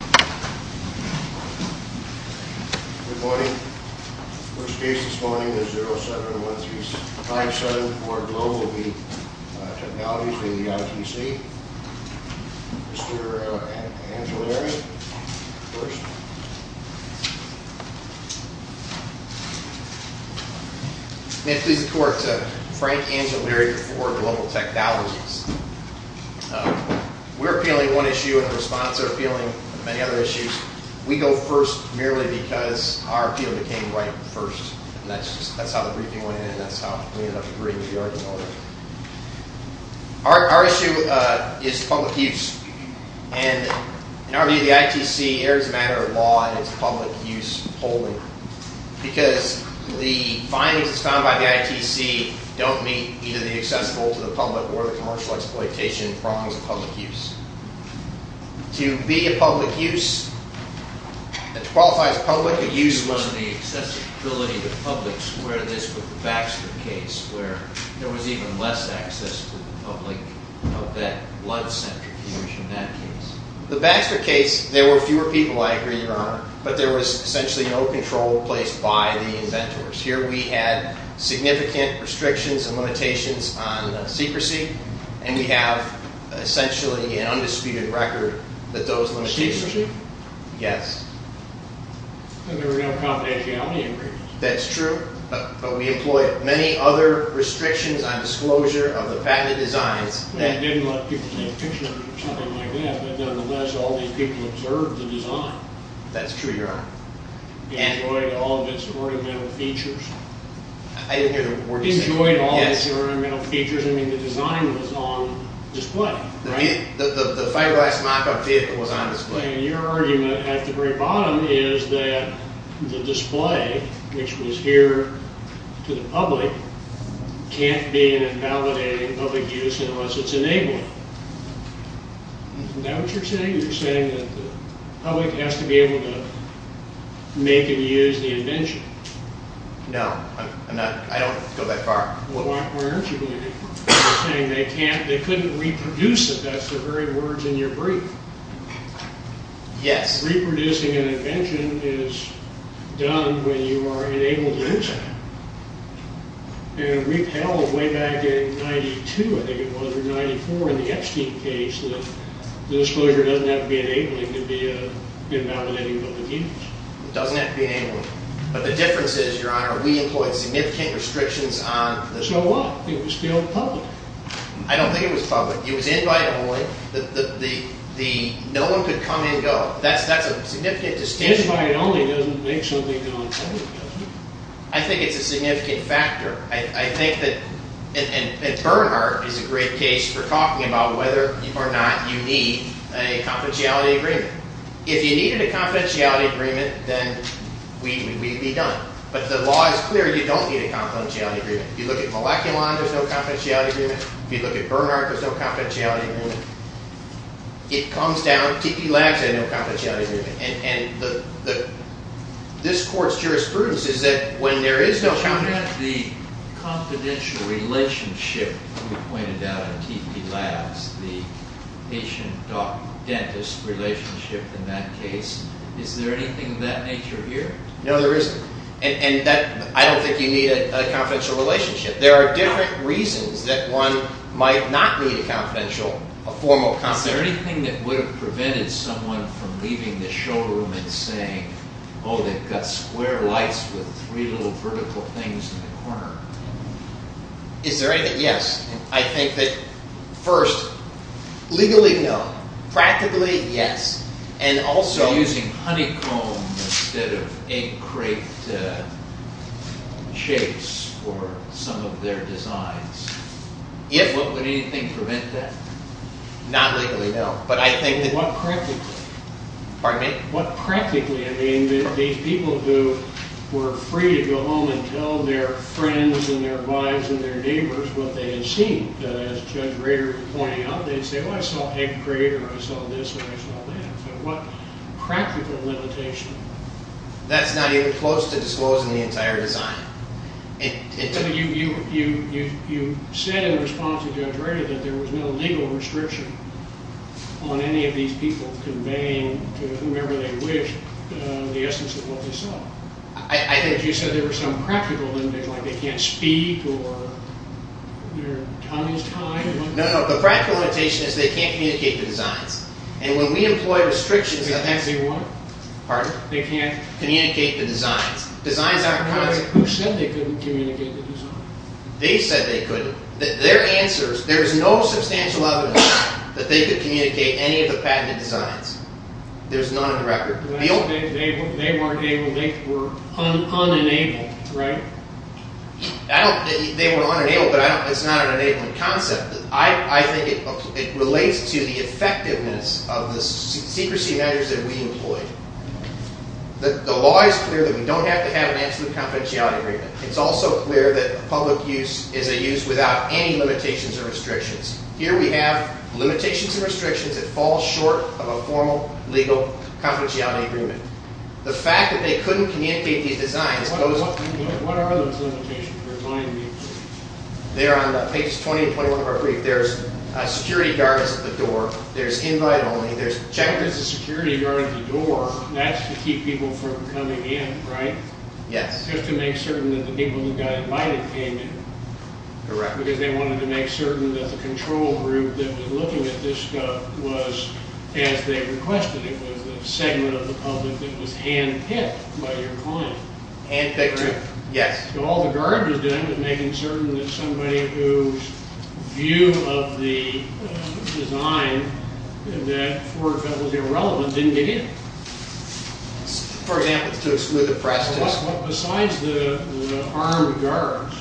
Good morning. The first case this morning is 071357 for Global Technologies v. ITC. Mr. Angellieri, first. May it please the court, Frank Angellieri for Global Technologies. We're appealing one issue in response to appealing many other issues. We go first merely because our appeal became right first. That's how the briefing went in and that's how we ended up agreeing to the argument over there. Our issue is public use and in our view the ITC errs in the matter of law in its public use polling because the findings found by the ITC don't meet either the accessible to the public or the commercial exploitation prongs of public use. To be a public use, to qualify as public use… The Baxter case, there were fewer people I agree, Your Honor, but there was essentially no control placed by the inventors. Here we had significant restrictions and limitations on secrecy and we have essentially an undisputed record that those limitations… Secrecy? Yes. And there were no confidentiality agreements. That's true, but we employed many other restrictions on disclosure of the patented designs… That didn't let people take pictures or something like that, but nevertheless all these people observed the design. That's true, Your Honor. Enjoyed all of its ornamental features. I didn't hear the word… Enjoyed all of its ornamental features. I mean the design was on display, right? The fiberglass mock-up vehicle was on display. And your argument at the very bottom is that the display, which was here to the public, can't be an invalidating public use unless it's enabled. Isn't that what you're saying? You're saying that the public has to be able to make and use the invention. No, I don't go that far. Why aren't you going that far? You're saying they couldn't reproduce it. That's the very words in your brief. Yes. Reproducing an invention is done when you are enabled to use it. And we've held way back in 92, I think it was, or 94 in the Epstein case, that the disclosure doesn't have to be enabling to be an invalidating public use. It doesn't have to be enabling. But the difference is, Your Honor, we employed significant restrictions on… So what? It was still public. I don't think it was public. It was invite-only. No one could come and go. That's a significant distinction. Invite-only doesn't make something non-public, does it? I think it's a significant factor. I think that, and Bernhardt is a great case for talking about whether or not you need a confidentiality agreement. If you needed a confidentiality agreement, then we'd be done. But the law is clear, you don't need a confidentiality agreement. If you look at Moleculon, there's no confidentiality agreement. If you look at Bernhardt, there's no confidentiality agreement. It comes down, TP Labs had no confidentiality agreement. This Court's jurisprudence is that when there is no confidentiality… But you had the confidential relationship you pointed out in TP Labs, the patient-doc-dentist relationship in that case. Is there anything of that nature here? No, there isn't. And I don't think you need a confidential relationship. There are different reasons that one might not need a formal confidentiality agreement. Is there anything that would have prevented someone from leaving the showroom and saying, oh, they've got square lights with three little vertical things in the corner? Is there anything? Yes. I think that, first, legally, no. Practically, yes. And also… Using honeycomb instead of egg crate shapes for some of their designs. If… What would anything prevent that? Not legally, no. But I think that… What practically? Pardon me? What practically? I mean, these people who were free to go home and tell their friends and their wives and their neighbors what they had seen. As Judge Rader was pointing out, they'd say, oh, I saw egg crate or I saw this or I saw that. What practical limitation? That's not even close to disclosing the entire design. You said in response to Judge Rader that there was no legal restriction on any of these people conveying to whomever they wished the essence of what they saw. I think… But you said there was some practical limitation, like they can't speak or their tongue is tied. No, no. The practical limitation is they can't communicate the designs. And when we employ restrictions… They can't say what? Pardon? They can't… Communicate the designs. Who said they couldn't communicate the designs? They said they couldn't. Their answers… There is no substantial evidence that they could communicate any of the patented designs. There's none on the record. They weren't able… They were unenabled, right? I don't… They were unenabled, but it's not an enabling concept. I think it relates to the effectiveness of the secrecy measures that we employ. The law is clear that we don't have to have an absolute confidentiality agreement. It's also clear that public use is a use without any limitations or restrictions. Here we have limitations and restrictions that fall short of a formal, legal confidentiality agreement. The fact that they couldn't communicate these designs goes… What are those limitations? They're on pages 20 and 21 of our brief. There's security guards at the door. There's invite only. There's a security guard at the door. That's to keep people from coming in, right? Yes. Just to make certain that the people who got invited came in. Correct. Because they wanted to make certain that the control group that was looking at this stuff was as they requested. It was a segment of the public that was hand-picked by your client. Hand-picked, yes. All the guards are doing is making certain that somebody whose view of the design, and that for that was irrelevant, didn't get in. For example, to exclude the President. Besides the armed guards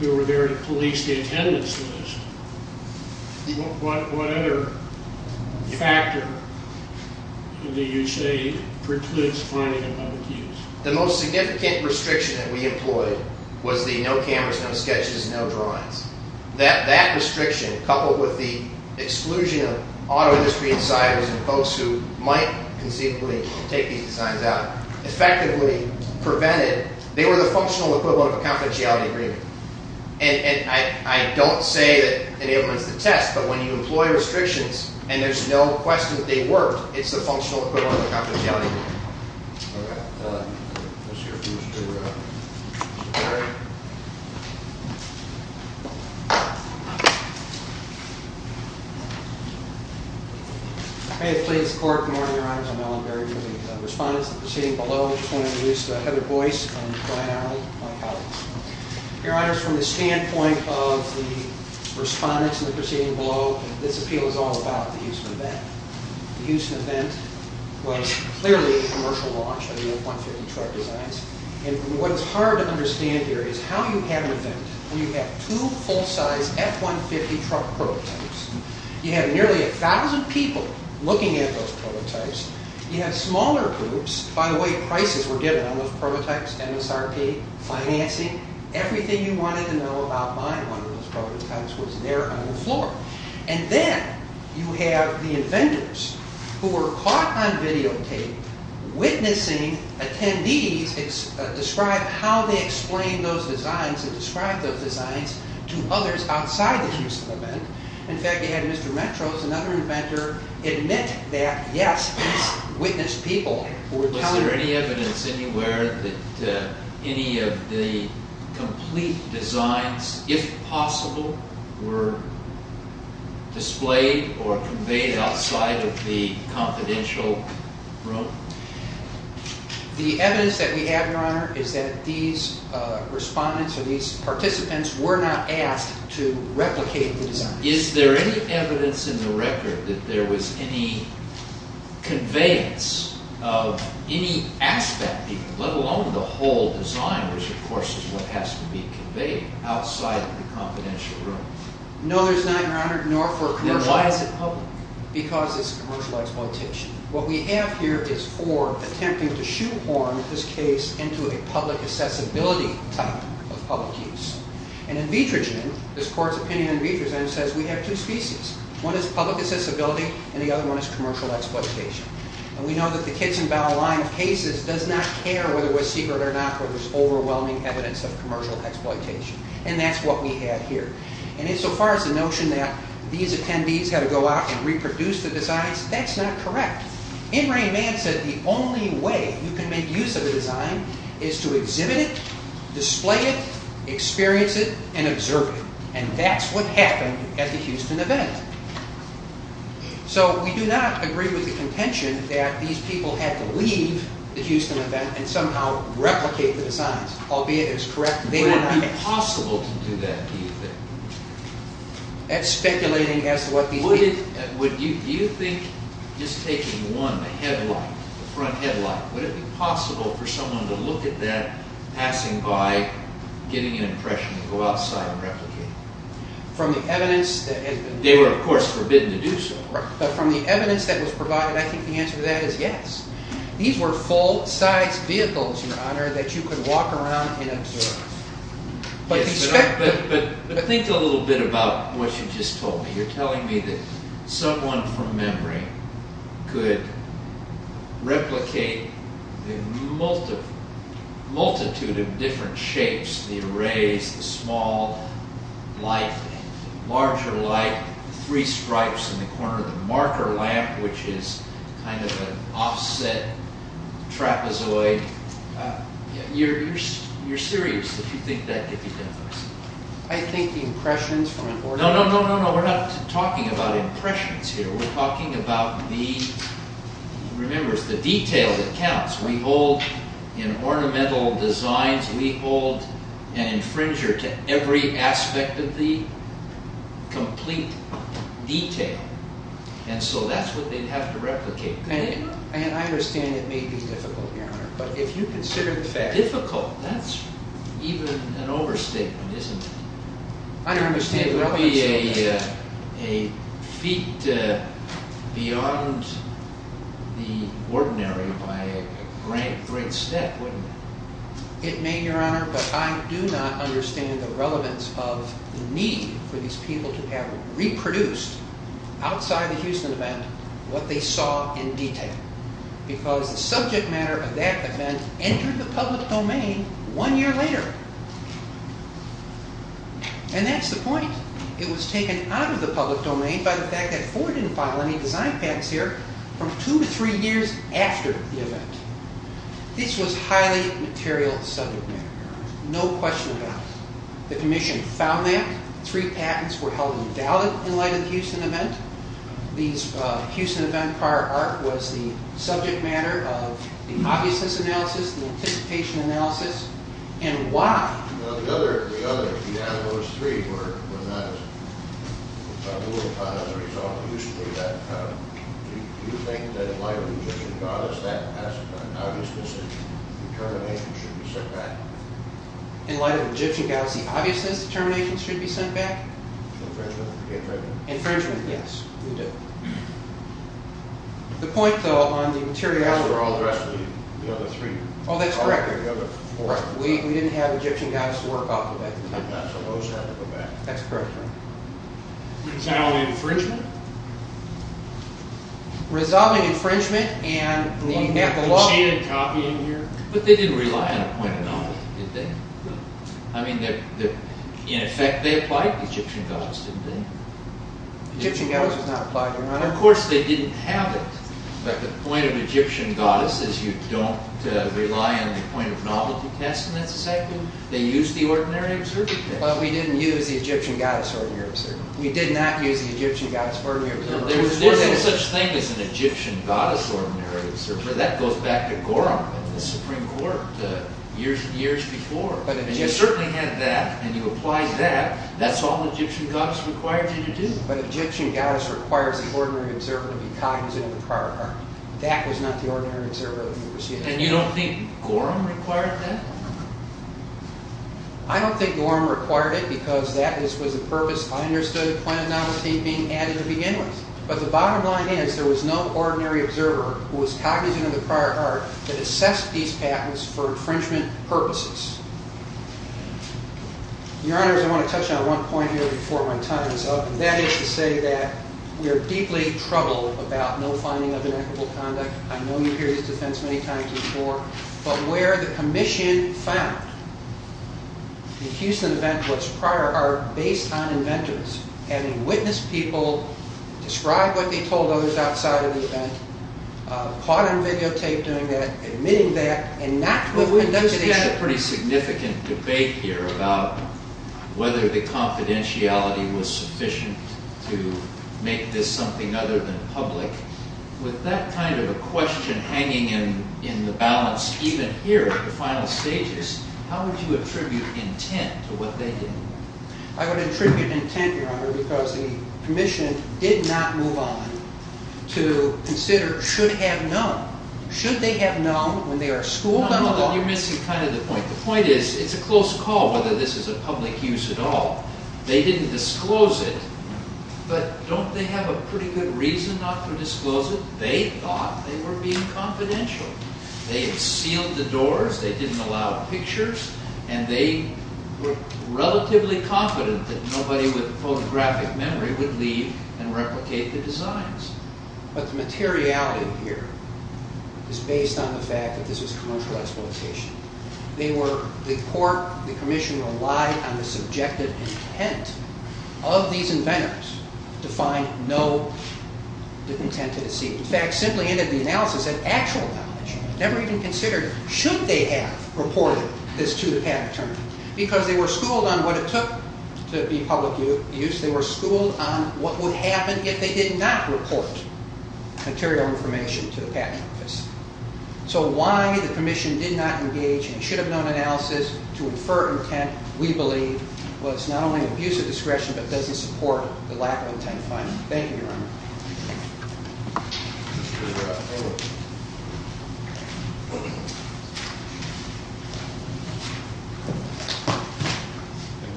who were there to police the attendance list, what other factor do you say precludes finding a public use? The most significant restriction that we employed was the no cameras, no sketches, no drawings. That restriction, coupled with the exclusion of auto industry insiders and folks who might conceivably take these designs out, effectively prevented… They were the functional equivalent of a confidentiality agreement. I don't say that anyone's to test, but when you employ restrictions and there's no question that they worked, it's the functional equivalent of a confidentiality agreement. All right. Let's hear from Mr. Berry. May it please the Court. Good morning, Your Honors. I'm Alan Berry, with the Respondents in the proceeding below. I just want to introduce Heather Boyce and Brian Arnold, my colleagues. Your Honors, from the standpoint of the Respondents in the proceeding below, this appeal is all about the use and event. The use and event was clearly a commercial launch of the F-150 truck designs. What's hard to understand here is how you have an event when you have two full-size F-150 truck prototypes. You have nearly 1,000 people looking at those prototypes. You have smaller groups. By the way, prices were given on those prototypes, MSRP, financing. Everything you wanted to know about buying one of those prototypes was there on the floor. And then you have the inventors who were caught on videotape witnessing attendees describe how they explained those designs and described those designs to others outside the use and event. In fact, you had Mr. Metros, another inventor, admit that, yes, he's witnessed people who were telling him. Is there any evidence anywhere that any of the complete designs, if possible, were displayed or conveyed outside of the confidential room? The evidence that we have, Your Honor, is that these Respondents or these participants were not asked to replicate the designs. Is there any evidence in the record that there was any conveyance of any aspect, let alone the whole design, which, of course, is what has to be conveyed outside of the confidential room? No, there's not, Your Honor, nor for commercial. Then why is it public? Because it's a commercial exploitation. What we have here is Ford attempting to shoehorn this case into a public accessibility type of public use. In Vitrogen, this Court's opinion in Vitrogen says we have two species. One is public accessibility, and the other one is commercial exploitation. We know that the Kitson-Bow line of cases does not care whether it was secret or not whether there's overwhelming evidence of commercial exploitation, and that's what we have here. Insofar as the notion that these attendees had to go out and reproduce the designs, that's not correct. In Ray Mann said the only way you can make use of a design is to exhibit it, display it, experience it, and observe it, and that's what happened at the Houston event. So we do not agree with the contention that these people had to leave the Houston event and somehow replicate the designs, albeit it's correct they were there. Would it be possible to do that, do you think? That's speculating as to what these people did. Do you think just taking one, the headlight, the front headlight, would it be possible for someone to look at that, passing by, getting an impression to go outside and replicate it? They were, of course, forbidden to do so. But from the evidence that was provided, I think the answer to that is yes. These were full-size vehicles, Your Honor, that you could walk around and observe. But think a little bit about what you just told me. You're telling me that someone from memory could replicate a multitude of different shapes, the arrays, the small light, larger light, three stripes in the corner of the marker lamp, which is kind of an offset trapezoid. You're serious that you think that could be done by somebody? I think the impressions were important. No, no, no, no, we're not talking about impressions here. We're talking about the, remember, it's the detail that counts. We hold in ornamental designs, we hold an infringer to every aspect of the complete detail. And so that's what they'd have to replicate. And I understand it may be difficult, Your Honor, but if you consider the fact… Difficult? That's even an overstatement, isn't it? I don't understand the relevance of that. It would be a feat beyond the ordinary by a great, great step, wouldn't it? It may, Your Honor, but I do not understand the relevance of the need for these people to have reproduced outside the Houston event what they saw in detail. Because the subject matter of that event entered the public domain one year later. And that's the point. It was taken out of the public domain by the fact that Ford didn't file any design patents here from two to three years after the event. This was highly material subject matter. No question about it. The Commission found that. Three patents were held invalid in light of the Houston event. The Houston event prior arc was the subject matter of the obviousness analysis, the anticipation analysis, and why? In light of the Egyptian goddess, the obviousness determination should be sent back? Infringement, yes, we do. The point, though, on the materiality... Oh, that's correct. We didn't have Egyptian goddess work off of that. That's correct, Your Honor. Resolving infringement? Resolving infringement and the net block... But they didn't rely on a point of knowledge, did they? I mean, in effect, they applied to the Egyptian goddess, didn't they? Egyptian goddess was not applied, Your Honor. Of course, they didn't have it. But the point of Egyptian goddess is you don't rely on the point of novelty test, and that's exactly... They used the ordinary observable test. But we didn't use the Egyptian goddess ordinary observable. We did not use the Egyptian goddess ordinary observable. There was no such thing as an Egyptian goddess ordinary observable. But that goes back to Gorham, the Supreme Court, years before. And you certainly had that, and you applied that. That's all the Egyptian goddess required you to do. But Egyptian goddess requires the ordinary observable to be cognizant of the prior argument. That was not the ordinary observable. And you don't think Gorham required that? I don't think Gorham required it because that was the purpose. I understood the point of novelty being added to begin with. But the bottom line is there was no ordinary observer who was cognizant of the prior art that assessed these patents for infringement purposes. Your Honors, I want to touch on one point here before my time is up, and that is to say that we are deeply troubled about no finding of inequitable conduct. I know you hear this defense many times before. But where the commission found the Houston event was prior art based on inventors, having witnessed people describe what they told others outside of the event, part on videotape doing that, admitting that, and not putting those things together. We've had a pretty significant debate here about whether the confidentiality was sufficient to make this something other than public. With that kind of a question hanging in the balance even here at the final stages, how would you attribute intent to what they did? I would attribute intent, Your Honor, because the commission did not move on to consider should have known. Should they have known when they are schooled? No, no, no, you're missing kind of the point. The point is it's a close call whether this is a public use at all. They didn't disclose it, but don't they have a pretty good reason not to disclose it? They thought they were being confidential. They had sealed the doors, they didn't allow pictures, and they were relatively confident that nobody with photographic memory would leave and replicate the designs. But the materiality here is based on the fact that this was commercial exploitation. They were, the court, the commission relied on the subjective intent of these inventors to find no intent to deceive. In fact, simply ended the analysis at actual knowledge. Never even considered should they have reported this to the patent attorney because they were schooled on what it took to be public use. They were schooled on what would happen if they did not report material information to the patent office. So why the commission did not engage in a should have known analysis to infer intent we believe was not only an abuse of discretion but doesn't support the lack of intent finding. Thank you, Your Honor. Good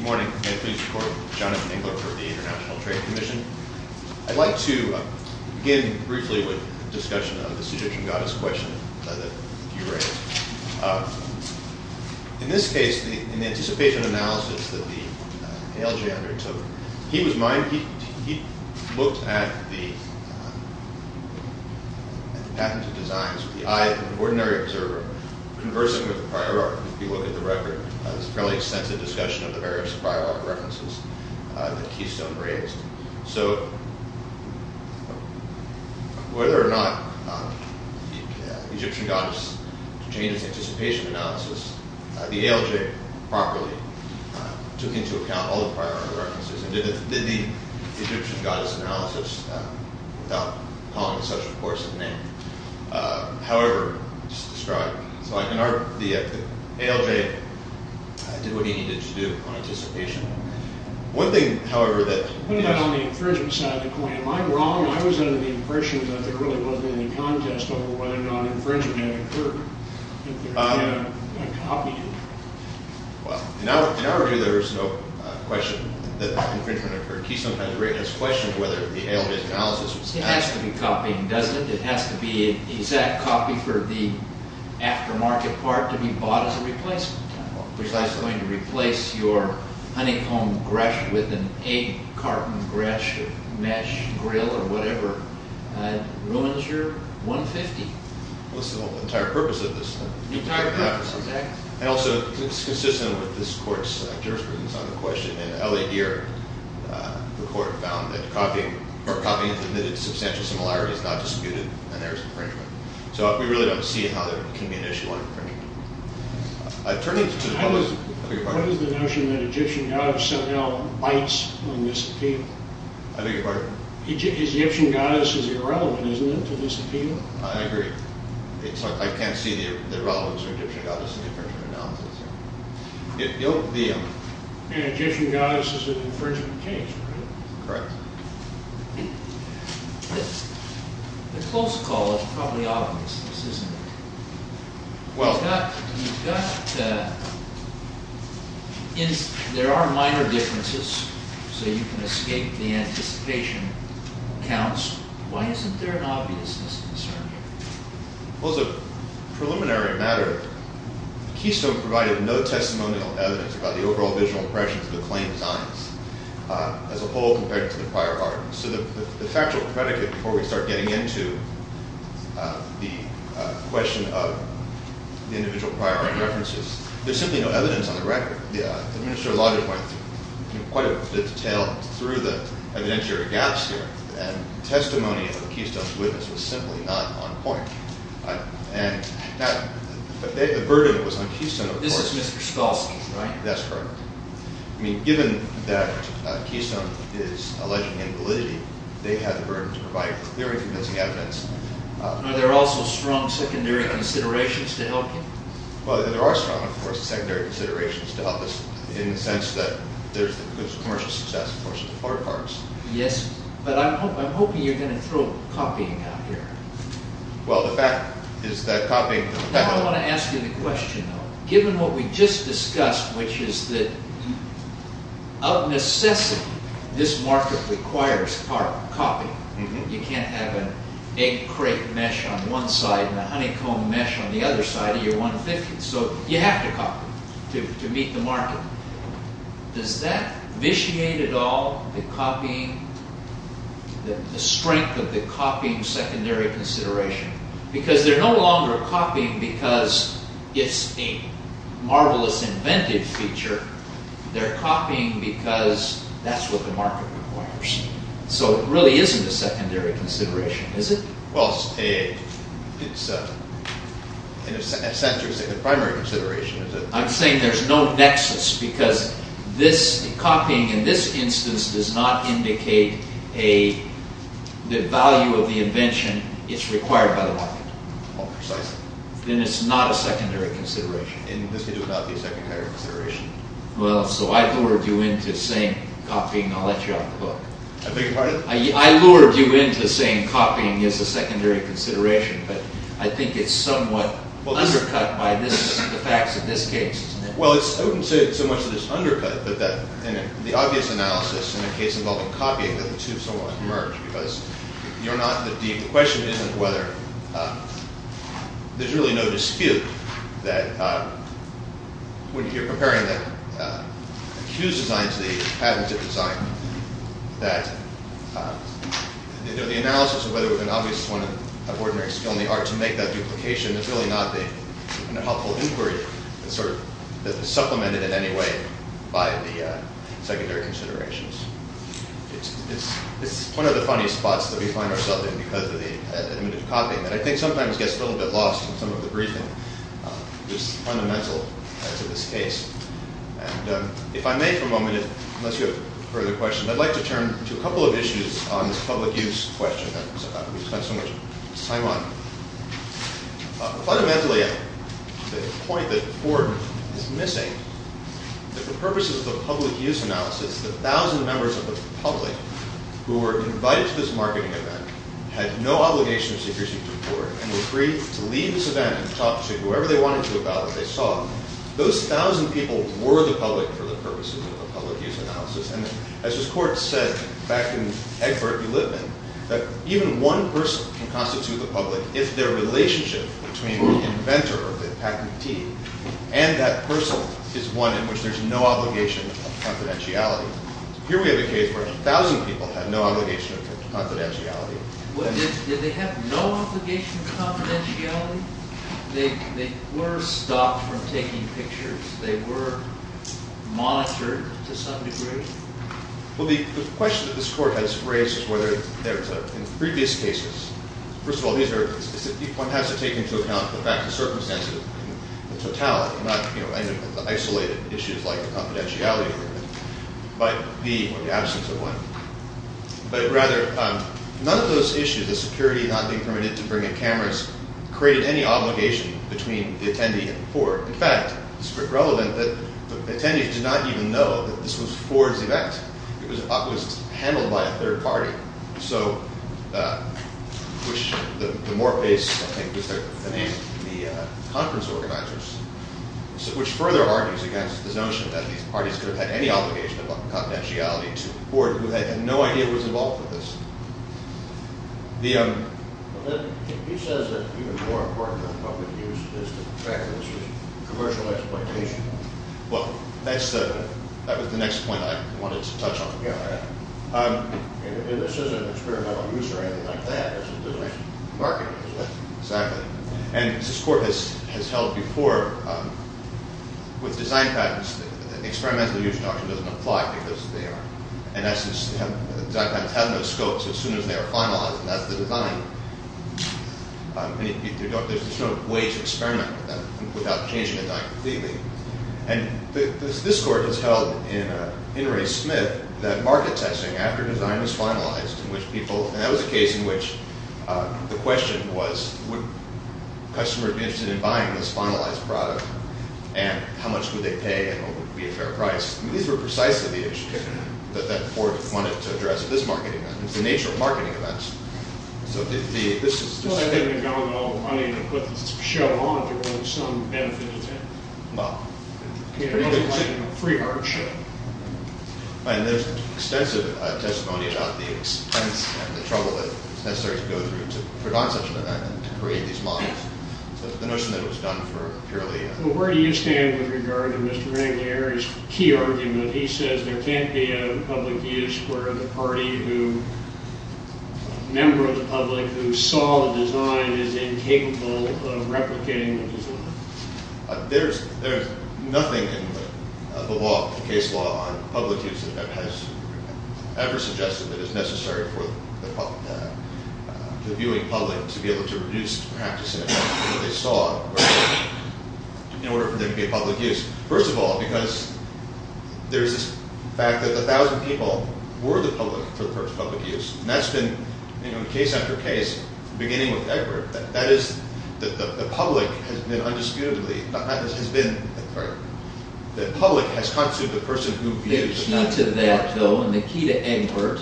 morning. May I please record Jonathan Engler for the International Trade Commission. I'd like to begin briefly with a discussion of the seduction goddess question that you raised. In this case, in the anticipation analysis that the ALJ undertook, he looked at the patented designs with the eye of an ordinary observer, conversing with the prior art. If you look at the record, there's a fairly extensive discussion of the various prior art references that Keystone raised. So whether or not the Egyptian goddess changes anticipation analysis, the ALJ properly took into account all the prior art references and did the Egyptian goddess analysis without calling such a course of name. However, just to describe, the ALJ did what he needed to do on anticipation. One thing, however, that... On the infringement side of the coin, am I wrong? I was under the impression that there really wasn't any contest over whether or not the ALJ copied it. Well, in our view, there is no question that infringement, or Keystone has raised this question whether the ALJ analysis was passed. It has to be copying, doesn't it? It has to be an exact copy for the aftermarket part to be bought as a replacement. Precisely going to replace your honeycomb gresh with an egg carton gresh, or mesh grill, or whatever, ruins your 150. Well, this is the entire purpose of this. The entire purpose, okay. And also, it's consistent with this court's jurisprudence on the question. In L.A. Deere, the court found that copying, or copying submitted to substantial similarities is not disputed, and there is infringement. So we really don't see how there can be an issue on infringement. I turn these to the public. I beg your pardon? What is the notion that Egyptian goddess somehow bites on this appeal? I beg your pardon? Egyptian goddess is irrelevant, isn't it, to this appeal? I agree. I can't see the relevance of Egyptian goddess in the infringement analysis. Egyptian goddess is an infringement case, right? Correct. The close call is probably obviousness, isn't it? There are minor differences, so you can escape the anticipation counts. Why isn't there an obviousness concern here? Well, as a preliminary matter, the keystone provided no testimonial evidence about the overall visual impressions of the claim designs, as a whole, compared to the prior argument. So the factual predicate, before we start getting into the question of the individual prior argument references, there's simply no evidence on the record. Mr. O'Loughlin went into quite a bit of detail through the evidentiary gaps here, and testimony of the keystone's witness was simply not on point. The burden was on keystone, of course. This is Mr. Skolski, right? That's correct. Given that keystone is alleging invalidity, they had the burden to provide very convincing evidence. Are there also strong secondary considerations to help him? Well, there are strong, of course, secondary considerations to help this, in the sense that there's the commercial success, of course, of the floor parts. Yes, but I'm hoping you're going to throw copying out here. Well, the fact is that copying... Now I want to ask you the question, though. Given what we just discussed, which is that, of necessity, this market requires copying. You can't have an egg crate mesh on one side and a honeycomb mesh on the other side. So you have to copy to meet the market. Does that vitiate at all the strength of the copying secondary consideration? Because they're no longer copying because it's a marvelous invented feature. They're copying because that's what the market requires. So it really isn't a secondary consideration, is it? Well, it's, in a sense, a primary consideration. I'm saying there's no nexus because copying in this instance does not indicate the value of the invention it's required by the market. Well, precisely. Then it's not a secondary consideration. And this could do without the secondary consideration. Well, so I lured you into saying copying. I'll let you off the hook. I beg your pardon? I lured you into saying copying is a secondary consideration, but I think it's somewhat undercut by the facts of this case. Well, I wouldn't say it's so much that it's undercut, but the obvious analysis in a case involving copying that the two somewhat merge because you're not in the deep. The question isn't whether there's really no dispute that when you're comparing the Q's design to the patented design that the analysis of whether there's an obvious one of ordinary skill in the art to make that duplication is really not a helpful inquiry that's supplemented in any way by the secondary considerations. It's one of the funny spots that we find ourselves in because of the limited copying that I think sometimes gets a little bit lost in some of the briefing. It's fundamental to this case. If I may for a moment, unless you have further questions, I'd like to turn to a couple of issues on this public use question. We've spent so much time on it. Fundamentally, the point that Ford is missing, that the purposes of the public use analysis, the 1,000 members of the public who were invited to this marketing event had no obligation of secrecy to Ford and were free to leave this event and talk to whoever they wanted to about it. Those 1,000 people were the public for the purposes of the public use analysis. As this court said back in Egbert-Ulitman, that even one person can constitute the public if their relationship between the inventor of the patentee and that person is one in which there's no obligation of confidentiality. Here we have a case where 1,000 people had no obligation of confidentiality. Did they have no obligation of confidentiality? They were stopped from taking pictures. They were monitored to some degree. Well, the question that this court has raised is whether in previous cases, first of all, one has to take into account the fact of circumstances and totality, not isolated issues like confidentiality, but the absence of one. But rather, none of those issues, the security not being permitted to bring in cameras, created any obligation between the attendee and the court. In fact, it's relevant that the attendees did not even know that this was Ford's event. It was handled by a third party, which the Moreface, I think, was the name of the conference organizers, which further argues against the notion that these parties could have had any obligation of confidentiality to Ford, who had no idea he was involved with this. He says that even more important than public use is the fact that this was a commercial exploitation. Well, that was the next point I wanted to touch on. And this isn't experimental use or anything like that. It's a business marketing. Exactly. And this court has held before with design patents that the experimental use doctrine doesn't apply because they aren't. Design patents have no scopes as soon as they are finalized, and that's the design. There's no way to experiment with them without changing the design completely. And this court has held in Ray Smith that market testing after design was finalized, and that was a case in which the question was, would customers be interested in buying this finalized product, and how much would they pay, and would it be a fair price? These were precisely the issues that Ford wanted to address at this marketing event. It's the nature of marketing events. So this is... Well, I didn't have all the money to put this show on if there was some benefit to it. Well... It was like a free art show. And there's extensive testimony about the expense and the trouble that's necessary to go through to put on such an event and to create these models. So the notion that it was done for purely... Well, where do you stand with regard to Mr. Anglieri's key argument? He says there can't be a public use where the party who... a member of the public who saw the design is incapable of replicating the design. There's nothing in the law, the case law, on public use that has ever suggested that it's necessary for the viewing public to be able to reduce the practice of what they saw in order for there to be a public use. First of all, because there's this fact that 1,000 people were the public until the first public use. And that's been case after case, beginning with Egbert. That is, the public has been undisputably... Has been... Sorry. The public has constituted the person who views... The key to that, though, and the key to Egbert,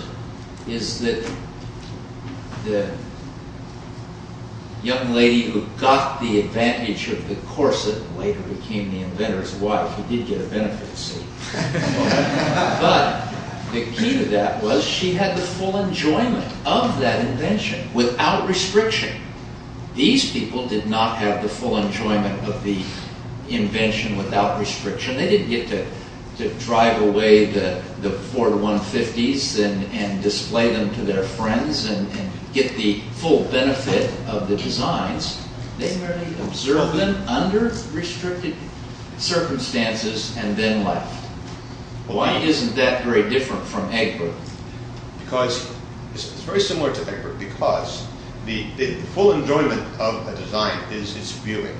is that the young lady who got the advantage of the corset and later became the inventor's wife, she did get a benefit, see? But the key to that was she had the full enjoyment of that invention without restriction. These people did not have the full enjoyment of the invention without restriction. They didn't get to drive away the Ford 150s and display them to their friends and get the full benefit of the designs. They merely observed them under restricted circumstances and then left. Why isn't that very different from Egbert? Because... It's very similar to Egbert because the full enjoyment of a design is its viewing.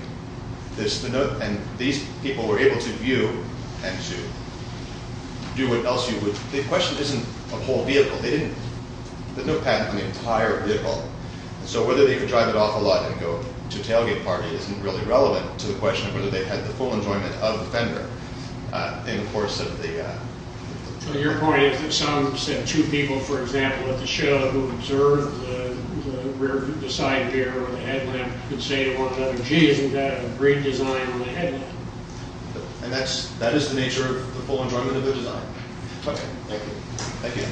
And these people were able to view and to do what else you would... The question isn't a whole vehicle. They didn't... There's no patent on the entire vehicle. So whether they could drive it off a lot and go to a tailgate party isn't really relevant to the question of whether they had the full enjoyment of the fender in the course of the... So your point is that some... Two people, for example, at the show who observed the rear... The side gear on the headlamp could say to one another, gee, isn't that a great design on the headlamp? And that is the nature of the full enjoyment of the design. Okay. Thank you. Thank you.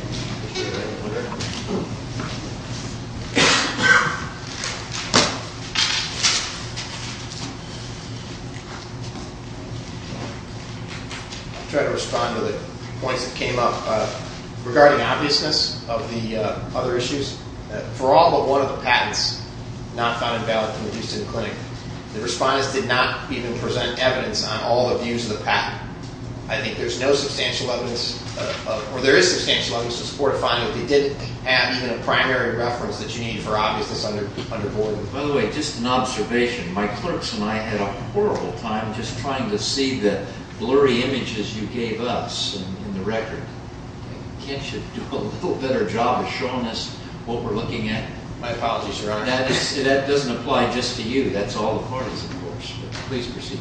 I'll try to respond to the points that came up regarding obviousness of the other issues. For all but one of the patents, not found invalid and reduced in the clinic, the respondents did not even present evidence on all the views of the patent. I think there's no substantial evidence... Or there is substantial evidence to support a finding if they didn't have even a primary reference that you need for obviousness under board. By the way, just an observation. My clerks and I had a horrible time just trying to see the blurry images you gave us in the record. Can't you do a little better job of showing us what we're looking at? My apologies, Your Honor. That doesn't apply just to you. That's all the parties, of course. Please proceed.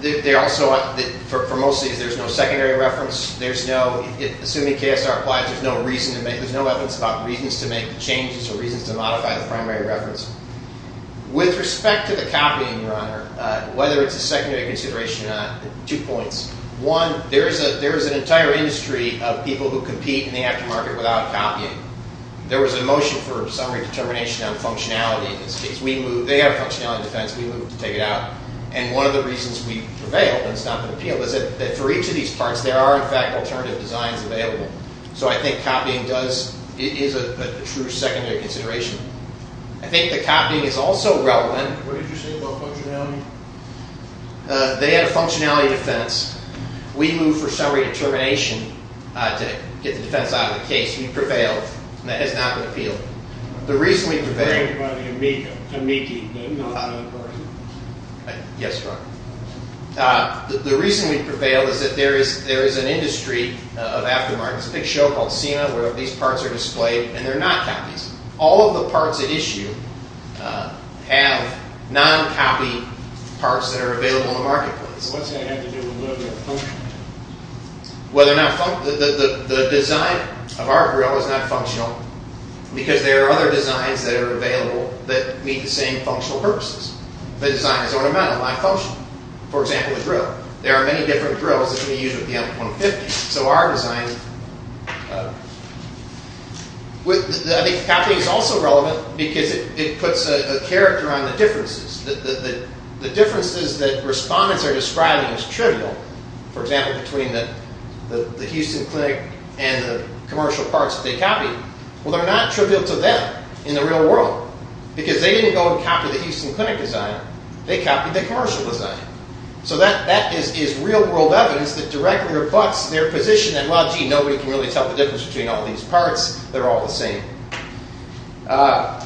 They also... For most of these, there's no secondary reference. There's no... Assuming KSR applies, there's no reason to make... There's no evidence about reasons to make changes or reasons to modify the primary reference. With respect to the copying, Your Honor, whether it's a secondary consideration or not, two points. One, there is an entire industry of people who compete in the aftermarket without copying. There was a motion for summary determination on functionality in this case. We moved... They have a functionality defense. We moved to take it out. And one of the reasons we prevailed and it's not been appealed is that for each of these parts, there are, in fact, alternative designs available. So I think copying does... It is a true secondary consideration. I think the copying is also relevant. What did you say about functionality? They had a functionality defense. We moved for summary determination to get the defense out of the case. We prevailed. That has not been appealed. The reason we prevailed... Yes, Your Honor. The reason we prevailed is that there is an industry of aftermarket. There's a big show called SEMA where these parts are displayed and they're not copies. All of the parts at issue have non-copy parts that are available in the marketplace. The design of our grill is not functional because there are other designs that are available that meet the same functional purposes. The design is ornamental, not functional. For example, the grill. There are many different grills that can be used with the M150. So our design... I think copying is also relevant because it puts a character on the differences. The differences that respondents are describing is trivial. For example, between the Houston Clinic and the commercial parts that they copied. Well, they're not trivial to them in the real world because they didn't go and copy the Houston Clinic design. They copied the commercial design. So that is real-world evidence that directly rebutts their position that, well, gee, nobody can really tell the difference between all these parts. They're all the same.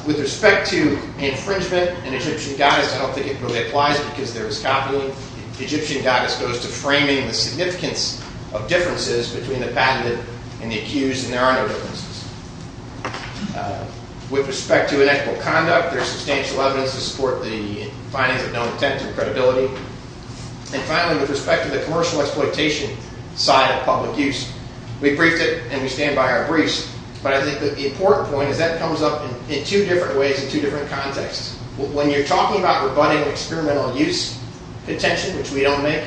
With respect to infringement and Egyptian goddess, because there is copying. Egyptian goddess goes to framing the significance of differences between the patented and the accused, and there are no differences. With respect to inequitable conduct, there's substantial evidence to support the findings of known intent and credibility. And finally, with respect to the commercial exploitation side of public use, we briefed it and we stand by our briefs, but I think that the important point is that comes up in two different ways in two different contexts. When you're talking about rebutting experimental use contention, which we don't make,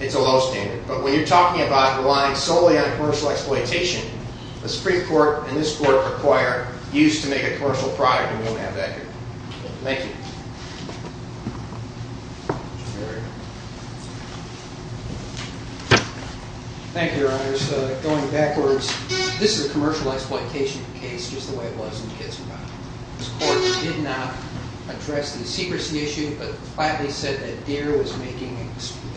it's a low standard. But when you're talking about relying solely on commercial exploitation, the Supreme Court and this Court require use to make a commercial product, and we don't have that here. Thank you. Thank you, Your Honors. Going backwards, this is a commercial exploitation case, just the way it was in the case of Goddard. This Court did not address the secrecy issue, but flatly said that Deere was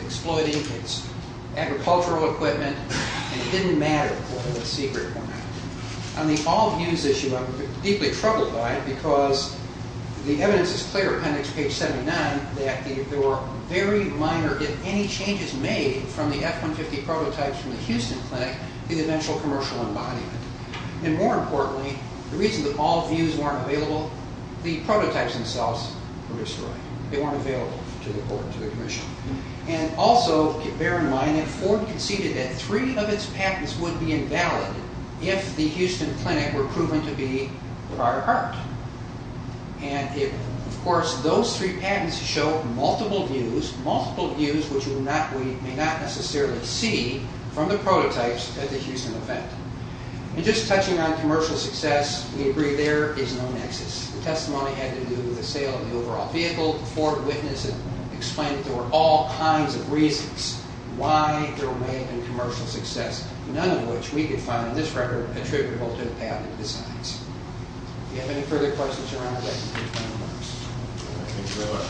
exploiting its agricultural equipment, and it didn't matter what the secret format was. On the all views issue, I'm deeply troubled by it because the evidence is clear, appendix page 79, that there were very minor, if any, changes made from the F-150 prototypes from the Houston clinic to the eventual commercial embodiment. And more importantly, the reason that all views weren't available, the prototypes themselves were destroyed. They weren't available to the Commission. And also, bear in mind, that Ford conceded that three of its patents would be invalid if the Houston clinic were proven to be of our heart. And, of course, those three patents show multiple views, multiple views which we may not necessarily see from the prototypes at the Houston event. And just touching on commercial success, we agree there is no nexus. The testimony had to do with the sale of the overall vehicle. Ford witnessed and explained that there were all kinds of reasons why there may have been commercial success, none of which we could find in this record attributable to the patent designs. Do you have any further questions around that? Thank you very much. Thank you. Thank you.